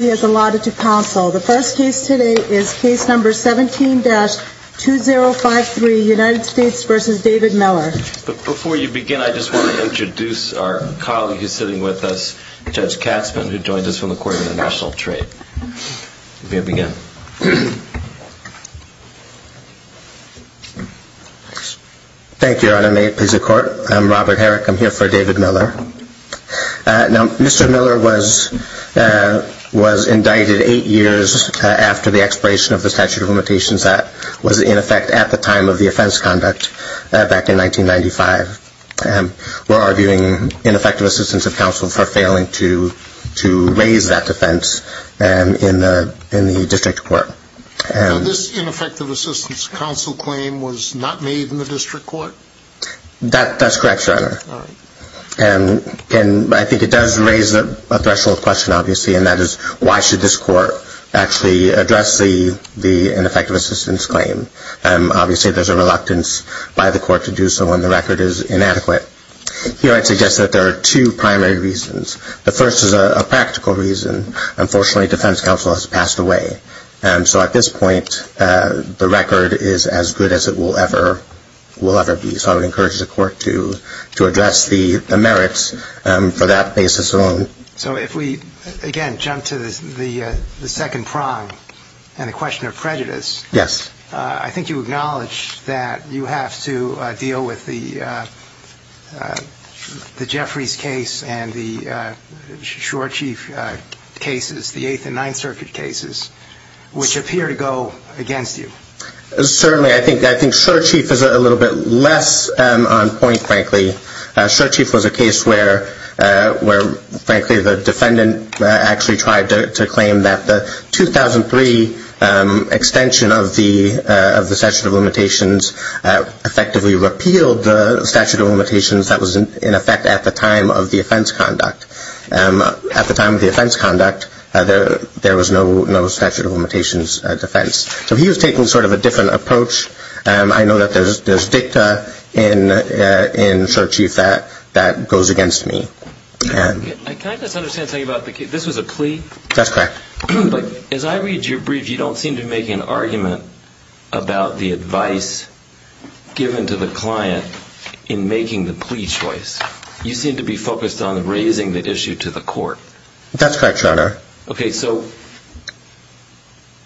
has allotted to counsel. The first case today is case number 17-2053, United States v. David Miller. Before you begin, I just want to introduce our colleague who's sitting with us, Judge Katzman, who joins us from the Court of International Trade. You may begin. Thank you, Your Honor. I'm Robert Herrick. I'm here for David Miller. Now, Mr. Miller was indicted eight years after the expiration of the statute of limitations that was in effect at the time of the offense conduct back in 1995. We're arguing ineffective assistance of counsel for failing to raise that defense in the district court. Now, this ineffective assistance of counsel claim was not made in the district court? That's correct, Your Honor. I think it does raise a threshold question, obviously, and that is why should this court actually address the ineffective assistance claim? Obviously, there's a reluctance by the court to do so when the record is inadequate. Here, I'd suggest that there are two primary reasons. The first is a practical reason. Unfortunately, defense counsel has passed away. So at this point, the record is as good as it will ever be. So I would encourage the court to address the merits for that basis alone. So if we, again, jump to the second prong and the question of prejudice, I think you acknowledge that you have to deal with the Jeffries case and the Shore Chief cases, the Ninth Circuit cases, which appear to go against you. Certainly. I think Shore Chief is a little bit less on point, frankly. Shore Chief was a case where, frankly, the defendant actually tried to claim that the 2003 extension of the statute of limitations effectively repealed the statute of limitations that was in effect at the time of the offense conduct. At the time of the offense conduct, there was no statute of limitations defense. So he was taking sort of a different approach. I know that there's dicta in Shore Chief that goes against me. Can I just understand something about the case? This was a plea? That's correct. As I read your brief, you don't seem to be making an argument about the advice given to the client in making the plea choice. You seem to be focused on raising the issue to the court. That's correct, Your Honor. Okay. So,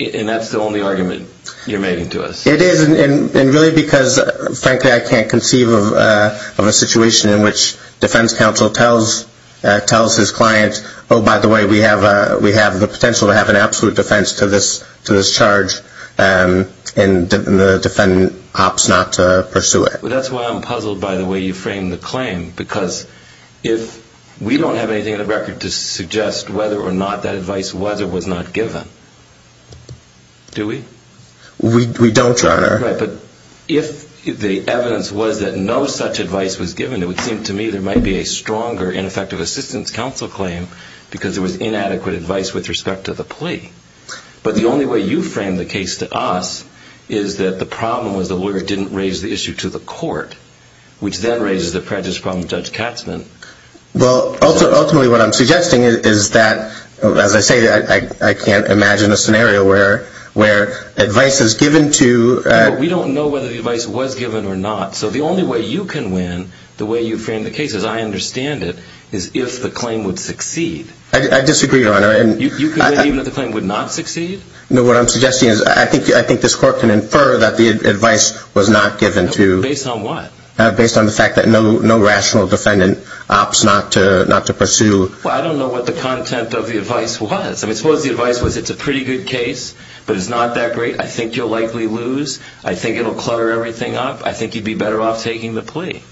and that's the only argument you're making to us? It is. And really because, frankly, I can't conceive of a situation in which defense counsel tells his client, oh, by the way, we have the potential to have an absolute defense to this charge and the defendant opts not to pursue it. Well, that's why I'm puzzled by the way you framed the claim. Because if we don't have anything on the record to suggest whether or not that advice was or was not given, do we? We don't, Your Honor. Right. But if the evidence was that no such advice was given, it would seem to me there might be a stronger ineffective assistance counsel claim because there was inadequate advice with respect to the plea. But the only way you framed the case to us is that the problem was the lawyer didn't raise the issue to the court, which then raises the prejudice problem with Judge Katzman. Well, ultimately what I'm suggesting is that, as I say, I can't imagine a scenario where advice is given to... We don't know whether the advice was given or not. So the only way you can win the way you framed the case, as I understand it, is if the claim would succeed. I disagree, Your Honor. You can win even if the claim would not succeed? No, what I'm suggesting is I think this court can infer that the advice was not given to... Based on what? Based on the fact that no rational defendant opts not to pursue... Well, I don't know what the content of the advice was. I mean, suppose the advice was it's a pretty good case, but it's not that great. I think you'll likely lose. I think it'll clutter everything up. I think you'd be better off taking the plea.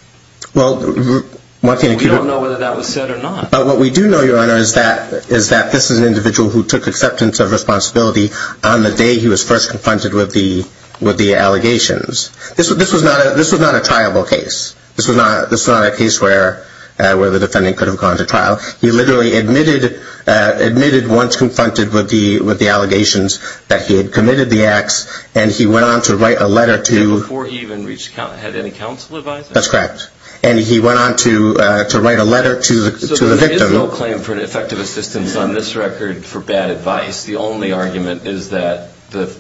Well, Martina... We don't know whether that was said or not. But what we do know, Your Honor, is that this is an individual who took acceptance of responsibility on the day he was first confronted with the allegations. This was not a triable case. This was not a case where the defendant could have gone to trial. He literally admitted once confronted with the allegations that he had committed the acts, and he went on to write a letter to... Before he even had any counsel advising? That's correct. And he went on to write a letter to the victim. There is no claim for effective assistance on this record for bad advice. The only argument is that the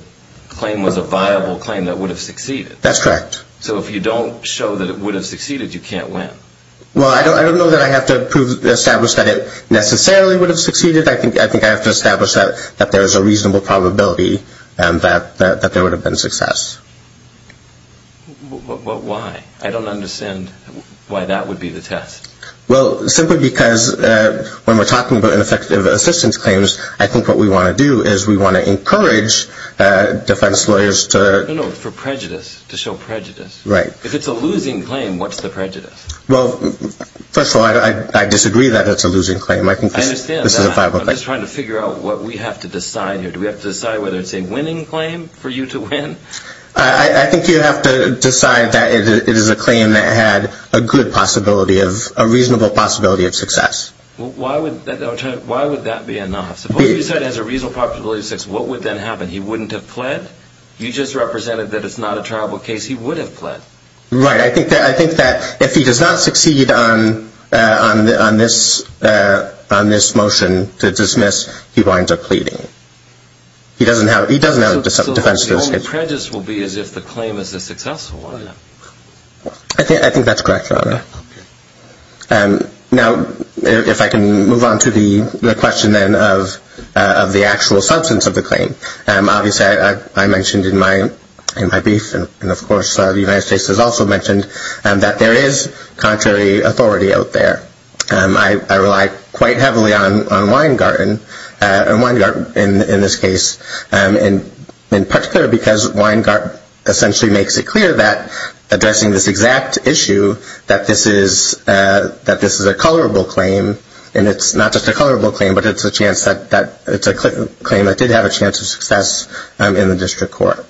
claim was a viable claim that would have succeeded. That's correct. So if you don't show that it would have succeeded, you can't win. Well, I don't know that I have to prove, establish that it necessarily would have succeeded. I think I have to establish that there is a reasonable probability that there would have been success. Why? I don't understand why that would be the test. Well, simply because when we're talking about ineffective assistance claims, I think what we want to do is we want to encourage defense lawyers to... No, no. For prejudice. To show prejudice. Right. If it's a losing claim, what's the prejudice? Well, first of all, I disagree that it's a losing claim. I think this is a viable claim. I understand that. I'm just trying to figure out what we have to decide here. Do we have to decide whether it's a winning claim for you to win? I think you have to decide that it is a claim that had a good possibility of, a reasonable possibility of success. Why would that be a no? Suppose you said it has a reasonable possibility of success, what would then happen? He wouldn't have pled? You just represented that it's not a trialable case. He would have pled. Right. I think that if he does not succeed on this motion to dismiss, he winds up pleading. He doesn't have a defense to this case. So the prejudice will be as if the claim is a successful one. I think that's correct, Your Honor. Now, if I can move on to the question then of the actual substance of the claim. Obviously, I mentioned in my brief, and of course the United States has also mentioned, that there is contrary authority out there. I rely quite essentially makes it clear that, addressing this exact issue, that this is a colorable claim, and it's not just a colorable claim, but it's a claim that did have a chance of success in the district court.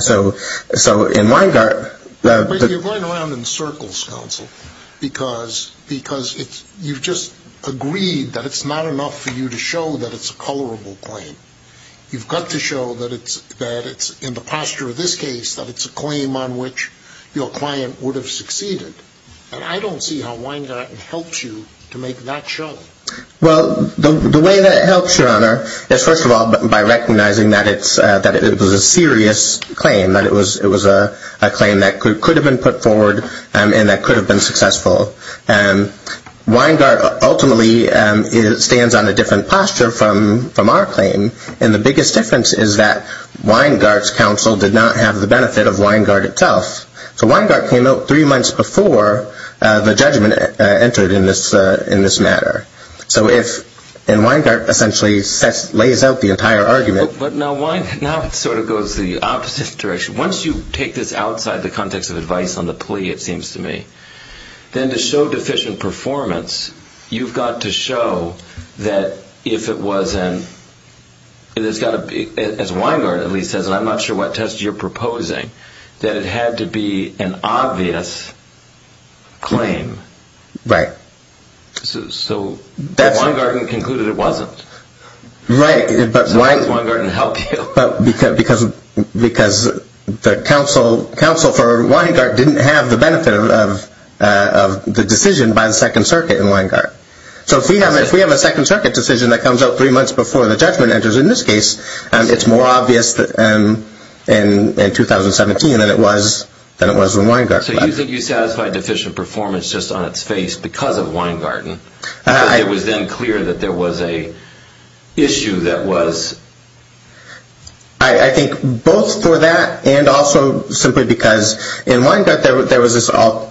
So in Weingartt... You're going around in circles, counsel, because you've just agreed that it's not enough for the posture of this case that it's a claim on which your client would have succeeded. And I don't see how Weingartt helps you to make that show. Well, the way that it helps, Your Honor, is first of all by recognizing that it was a serious claim, that it was a claim that could have been put forward and that could have been successful. Weingartt ultimately stands on a different posture from our claim, and the biggest difference is that Weingartt's counsel did not have the benefit of Weingartt itself. So Weingartt came out three months before the judgment entered in this matter. So if, and Weingartt essentially lays out the entire argument... But now it sort of goes the opposite direction. Once you take this outside the context of advice on the plea, it seems to me, then to show deficient performance, you've got to be, as Weingartt at least says, and I'm not sure what test you're proposing, that it had to be an obvious claim. Right. So Weingartt concluded it wasn't. Right, but why... So how does Weingartt help you? Because the counsel for Weingartt didn't have the benefit of the decision by the Second Circuit in Weingartt. So if we have a Second Circuit, three months before the judgment enters in this case, it's more obvious in 2017 than it was in Weingartt. So you think you satisfied deficient performance just on its face because of Weingartt, and it was then clear that there was an issue that was... I think both for that and also simply because in Weingartt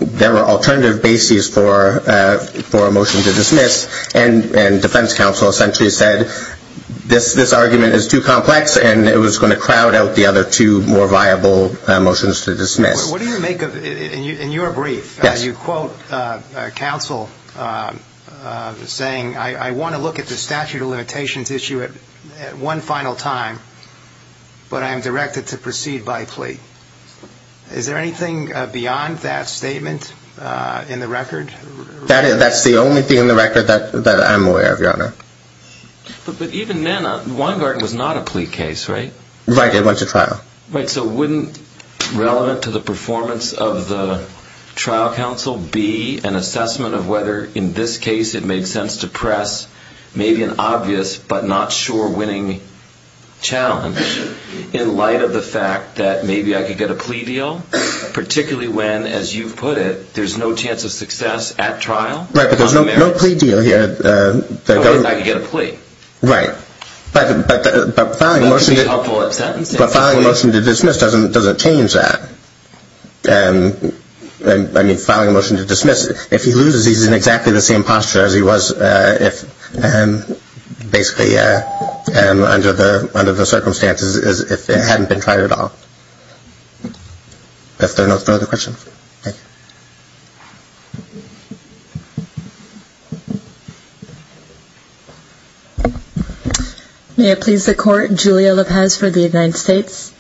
there were alternative bases for a motion to dismiss, and defense counsel essentially said, this argument is too complex, and it was going to crowd out the other two more viable motions to dismiss. What do you make of, in your brief, you quote counsel saying, I want to look at the statute of limitations issue at one final time, but I am directed to proceed by plea. Is there anything beyond that statement in the record? That's the only thing in the record that I'm aware of, your honor. But even then, Weingartt was not a plea case, right? Right, it went to trial. Right, so wouldn't relevant to the performance of the trial counsel be an assessment of whether in this case it made sense to press maybe an obvious but not sure winning challenge in light of the fact that maybe I could get a plea deal, particularly when, as you've put it, there's no chance of success at trial? Right, but there's no plea deal here. I could get a plea. Right, but filing a motion to dismiss doesn't change that. I mean, filing a motion to dismiss, if he loses, he's in exactly the same posture as he was if basically under the circumstances as if it hadn't been tried at all. If there are no further questions, thank you. May it please the court, Julia Lopez for the United States.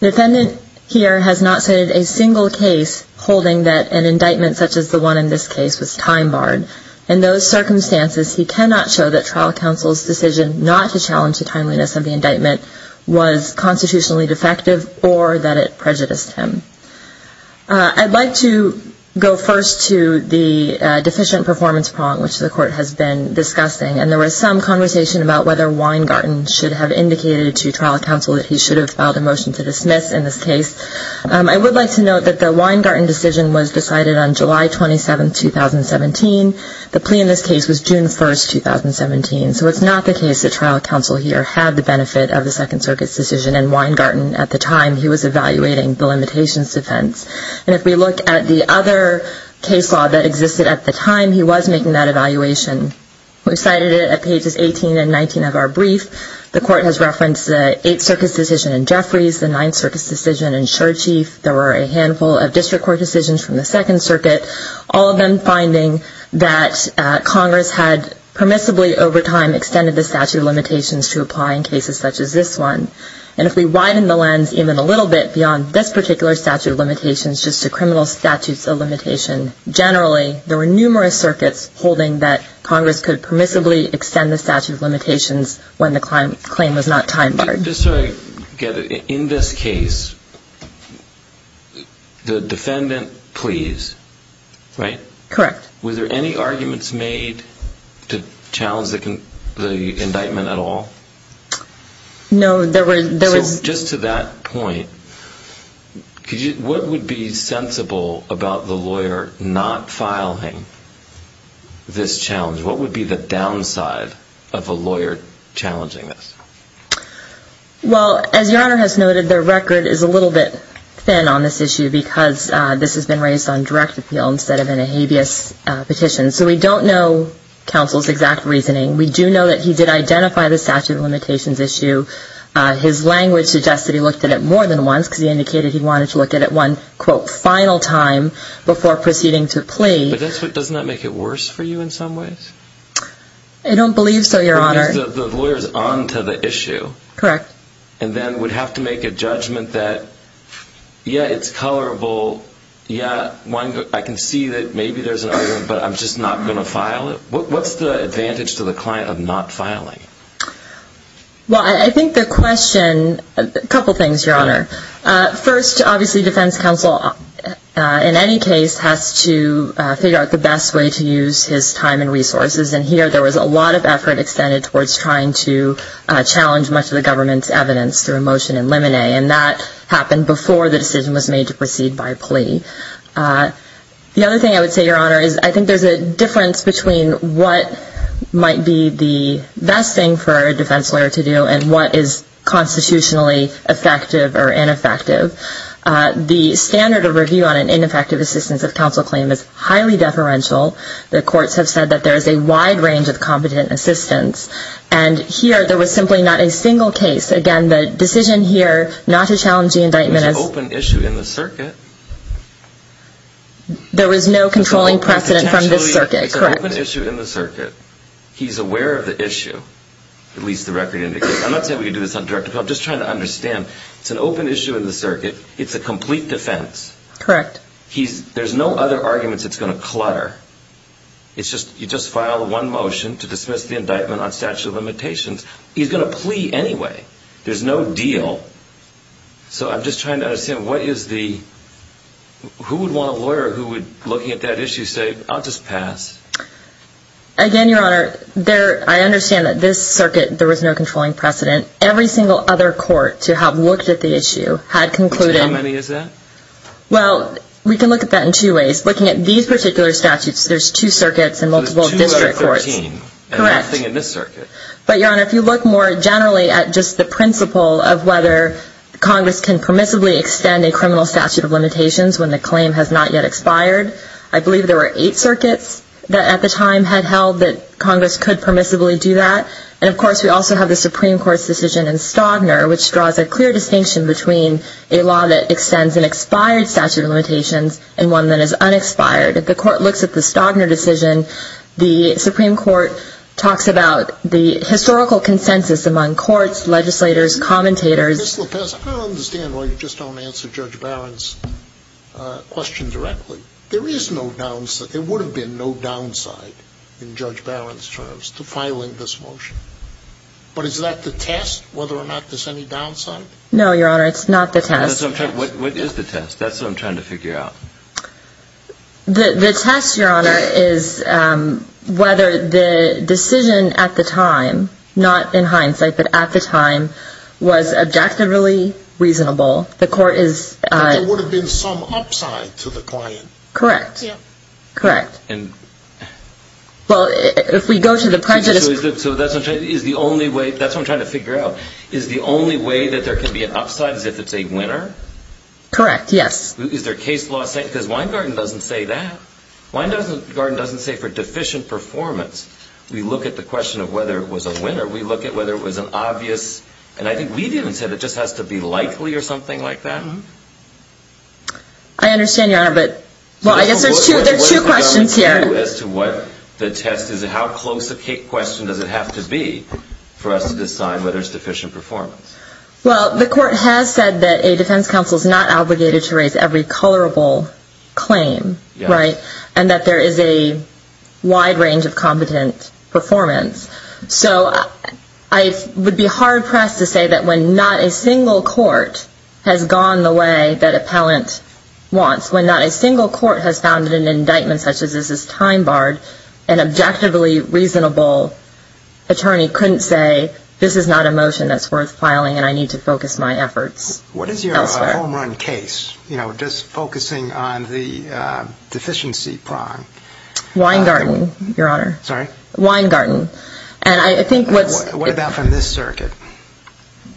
The defendant here has not cited a single case holding that an indictment such as the one in this case was time barred. In those circumstances, he cannot show that trial counsel's decision not to challenge the timeliness of the indictment was constitutionally defective or that it prejudiced him. I'd like to go first to the deficient performance prong, which the court has been discussing, and there was some conversation about whether Weingarten should have indicated to trial counsel that he should have filed a motion to dismiss in this case. I would like to note that the Weingarten decision was decided on July 27, 2017. The plea in this case was June 1, 2017. So it's not the case that trial counsel here had the benefit of the Second Circuit's decision and Weingarten at the time, he was evaluating the limitations defense. And if we look at the other case law that existed at the time, he was making that evaluation. The court has referenced the Eighth Circuit's decision in Jeffries, the Ninth Circuit's decision in Sherchief. There were a handful of district court decisions from the Second Circuit, all of them finding that Congress had permissibly over time extended the statute of limitations to apply in cases such as this one. And if we widen the lens even a little bit beyond this particular statute of limitations just to criminal statutes of limitation generally, there were numerous circuits holding that Congress could permissibly extend the statute of limitations when the claim was not time barred. Just so I get it, in this case, the defendant pleas, right? Correct. Were there any arguments made to challenge the indictment at all? No, there was. Just to that point, what would be sensible about the lawyer not filing this challenge? What would be the downside of a lawyer challenging this? Well, as Your Honor has noted, the record is a little bit thin on this issue because this has been raised on direct appeal instead of in a habeas petition. So we don't know counsel's exact reasoning. We do know that he did identify the statute of limitations issue. His language suggests that he looked at it more than once because he indicated he wanted to look at it one, quote, final time before proceeding to plea. But doesn't that make it worse for you in some ways? I don't believe so, Your Honor. The lawyer is on to the issue. Correct. And then would have to make a judgment that, yeah, it's colorable. Yeah, I can see that maybe there's an argument, but I'm just not going to file it. What's the advantage to the client of not filing? Well, I think the question, a couple things, Your Honor. First, obviously, defense counsel in any case has to figure out the best way to use his time and resources. And here there was a lot of effort extended towards trying to challenge much of the government's evidence through a motion in limine, and that happened before the decision was made to proceed by plea. The other thing I would say, Your Honor, is I think there's a difference between what might be the best thing for a defense lawyer to do and what is constitutionally effective or ineffective. The standard of review on an ineffective assistance of counsel claim is highly deferential. The courts have said that there is a wide range of competent assistance. And here there was simply not a single case. Again, the decision here not to challenge the indictment is open issue in the circuit. There was no controlling precedent from this circuit, correct. It's an open issue in the circuit. He's aware of the issue, at least the record indicates. I'm not saying we can do this on direct appeal. I'm just trying to understand. It's an open issue in the circuit. It's a complete defense. Correct. There's no other arguments it's going to clutter. You just file one motion to dismiss the indictment on statute of limitations. He's going to plea anyway. There's no deal. So I'm just trying to understand what is the – who would want a lawyer who would, looking at that issue, say, I'll just pass. Again, Your Honor, I understand that this circuit there was no controlling precedent. Every single other court to have looked at the issue had concluded. How many is that? Well, we can look at that in two ways. Looking at these particular statutes, there's two circuits and multiple district courts. There's two out of 13. Correct. And nothing in this circuit. But, Your Honor, if you look more generally at just the principle of whether Congress can permissibly extend a criminal statute of limitations when the claim has not yet expired, I believe there were eight circuits that, at the time, had held that Congress could permissibly do that. And, of course, we also have the Supreme Court's decision in Stodner which draws a clear distinction between a law that extends an expired statute of limitations and one that is unexpired. If the court looks at the Stodner decision, the Supreme Court talks about the historical consensus among courts, legislators, commentators. Ms. LaPaz, I don't understand why you just don't answer Judge Barron's question directly. There is no downside. There would have been no downside in Judge Barron's terms to filing this motion. But is that the test, whether or not there's any downside? No, Your Honor, it's not the test. What is the test? That's what I'm trying to figure out. The test, Your Honor, is whether the decision at the time, not in hindsight but at the time, was objectively reasonable. The court is... But there would have been some upside to the client. Correct. Correct. And... Well, if we go to the prejudice... So that's what I'm trying to figure out. Is the only way that there can be an upside is if it's a winner? Correct, yes. Is there case law saying... Because Weingarten doesn't say that. Weingarten doesn't say for deficient performance. We look at the question of whether it was a winner. We look at whether it was an obvious... And I think we didn't say that it just has to be likely or something like that. I understand, Your Honor, but... Well, I guess there are two questions here. As to what the test is, how close a question does it have to be for us to decide whether it's deficient performance? Well, the court has said that a defense counsel is not obligated to raise every colorable claim, right? And that there is a wide range of competent performance. So I would be hard-pressed to say that when not a single court has gone the way that appellant wants, when not a single court has found an indictment such as this is time-barred, an objectively reasonable attorney couldn't say, this is not a motion that's worth filing and I need to focus my efforts elsewhere. What is your home-run case? You know, just focusing on the deficiency prong. Weingarten, Your Honor. Sorry? Weingarten. And I think what's... What about from this circuit?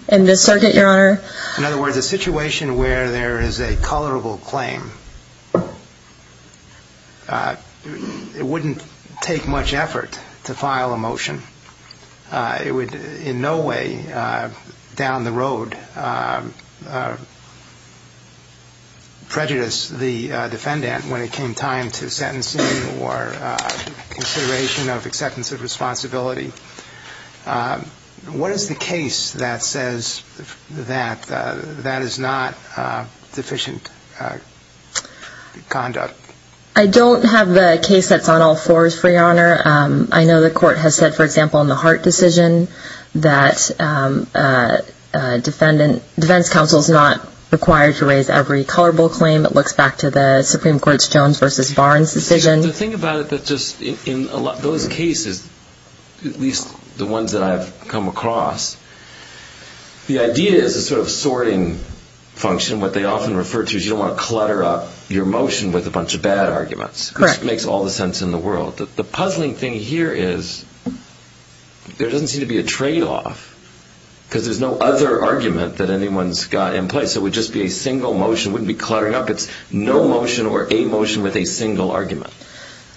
In this circuit, Your Honor? In other words, a situation where there is a colorable claim, it wouldn't take much effort to file a motion. It would in no way down the road prejudice the defendant when it came time to sentencing or consideration of acceptance of responsibility. What is the case that says that that is not deficient conduct? I don't have a case that's on all fours, Your Honor. I know the court has said, for example, in the Hart decision, that defense counsel is not required to raise every colorable claim. It looks back to the Supreme Court's Jones v. Barnes decision. The thing about it that just in those cases, at least the ones that I've come across, the idea is a sort of sorting function. What they often refer to is you don't want to clutter up your motion with a bunch of bad arguments. Correct. Which makes all the sense in the world. The puzzling thing here is there doesn't seem to be a tradeoff because there's no other argument that anyone's got in place. It would just be a single motion. It wouldn't be cluttering up. It's no motion or a motion with a single argument.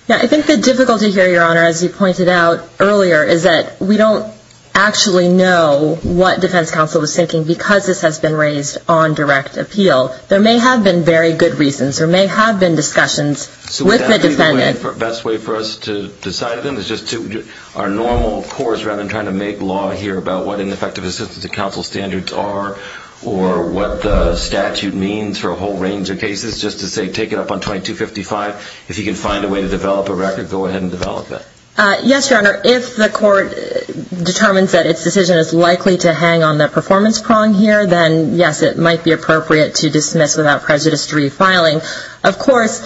I think the difficulty here, Your Honor, as you pointed out earlier, is that we don't actually know what defense counsel was thinking because this has been raised on direct appeal. There may have been very good reasons. There may have been discussions with the defendant. So the best way for us to decide then is just to do our normal course rather than trying to make law here about what ineffective assistance of counsel standards are or what the statute means for a whole range of cases, just to say take it up on 2255. If you can find a way to develop a record, go ahead and develop it. Yes, Your Honor. If the court determines that its decision is likely to hang on the performance prong here, then, yes, it might be appropriate to dismiss without prejudice to refiling. Of course,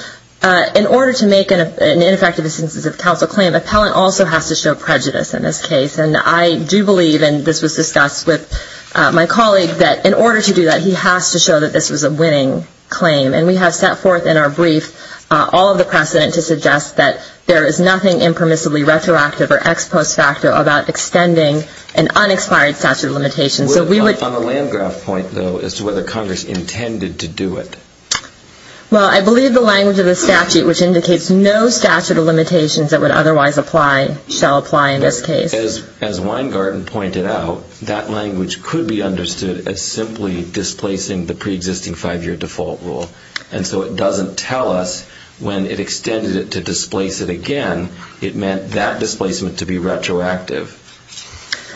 in order to make an ineffective assistance of counsel claim, appellant also has to show prejudice in this case. And I do believe, and this was discussed with my colleague, that in order to do that, he has to show that this was a winning claim. And we have set forth in our brief all of the precedent to suggest that there is nothing impermissibly retroactive or ex post facto about extending an unexpired statute of limitations. On the land graph point, though, as to whether Congress intended to do it. Well, I believe the language of the statute, which indicates no statute of limitations that would otherwise apply, shall apply in this case. As Weingarten pointed out, that language could be understood as simply displacing the preexisting five-year default rule. And so it doesn't tell us when it extended it to displace it again, it meant that displacement to be retroactive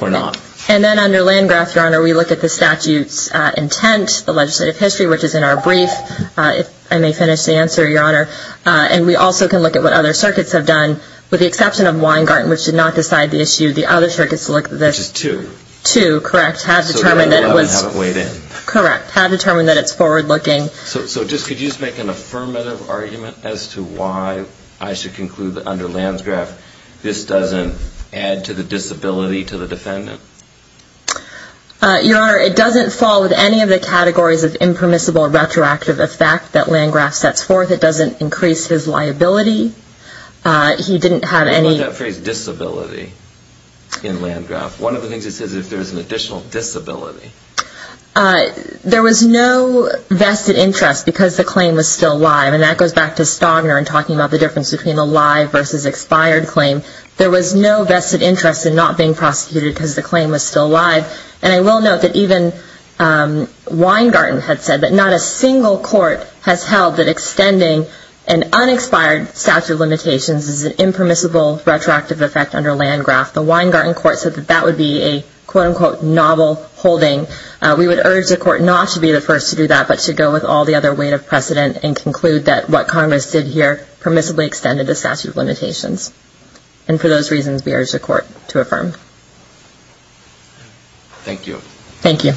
or not. And then under land graph, Your Honor, we look at the statute's intent, the legislative history, which is in our brief. I may finish the answer, Your Honor. And we also can look at what other circuits have done, with the exception of Weingarten, which did not decide the issue. The other circuits look at this. Which is two. Two, correct. Had determined that it was. So they haven't weighed in. Correct. Had determined that it's forward-looking. So just could you just make an affirmative argument as to why I should conclude that under land graph, this doesn't add to the disability to the defendant? Your Honor, it doesn't fall with any of the categories of impermissible retroactive effect that land graph sets forth. It doesn't increase his liability. He didn't have any. What about that phrase disability in land graph? One of the things it says is if there's an additional disability. There was no vested interest because the claim was still live. And that goes back to Stagner and talking about the difference between a live versus expired claim. There was no vested interest in not being prosecuted because the claim was still live. And I will note that even Weingarten had said that not a single court has held that extending an unexpired statute of limitations is an impermissible retroactive effect under land graph. The Weingarten court said that that would be a quote-unquote novel holding. We would urge the court not to be the first to do that but to go with all the other weight of precedent and conclude that what Congress did here permissibly extended the statute of limitations. And for those reasons, we urge the court to affirm. Thank you. Thank you.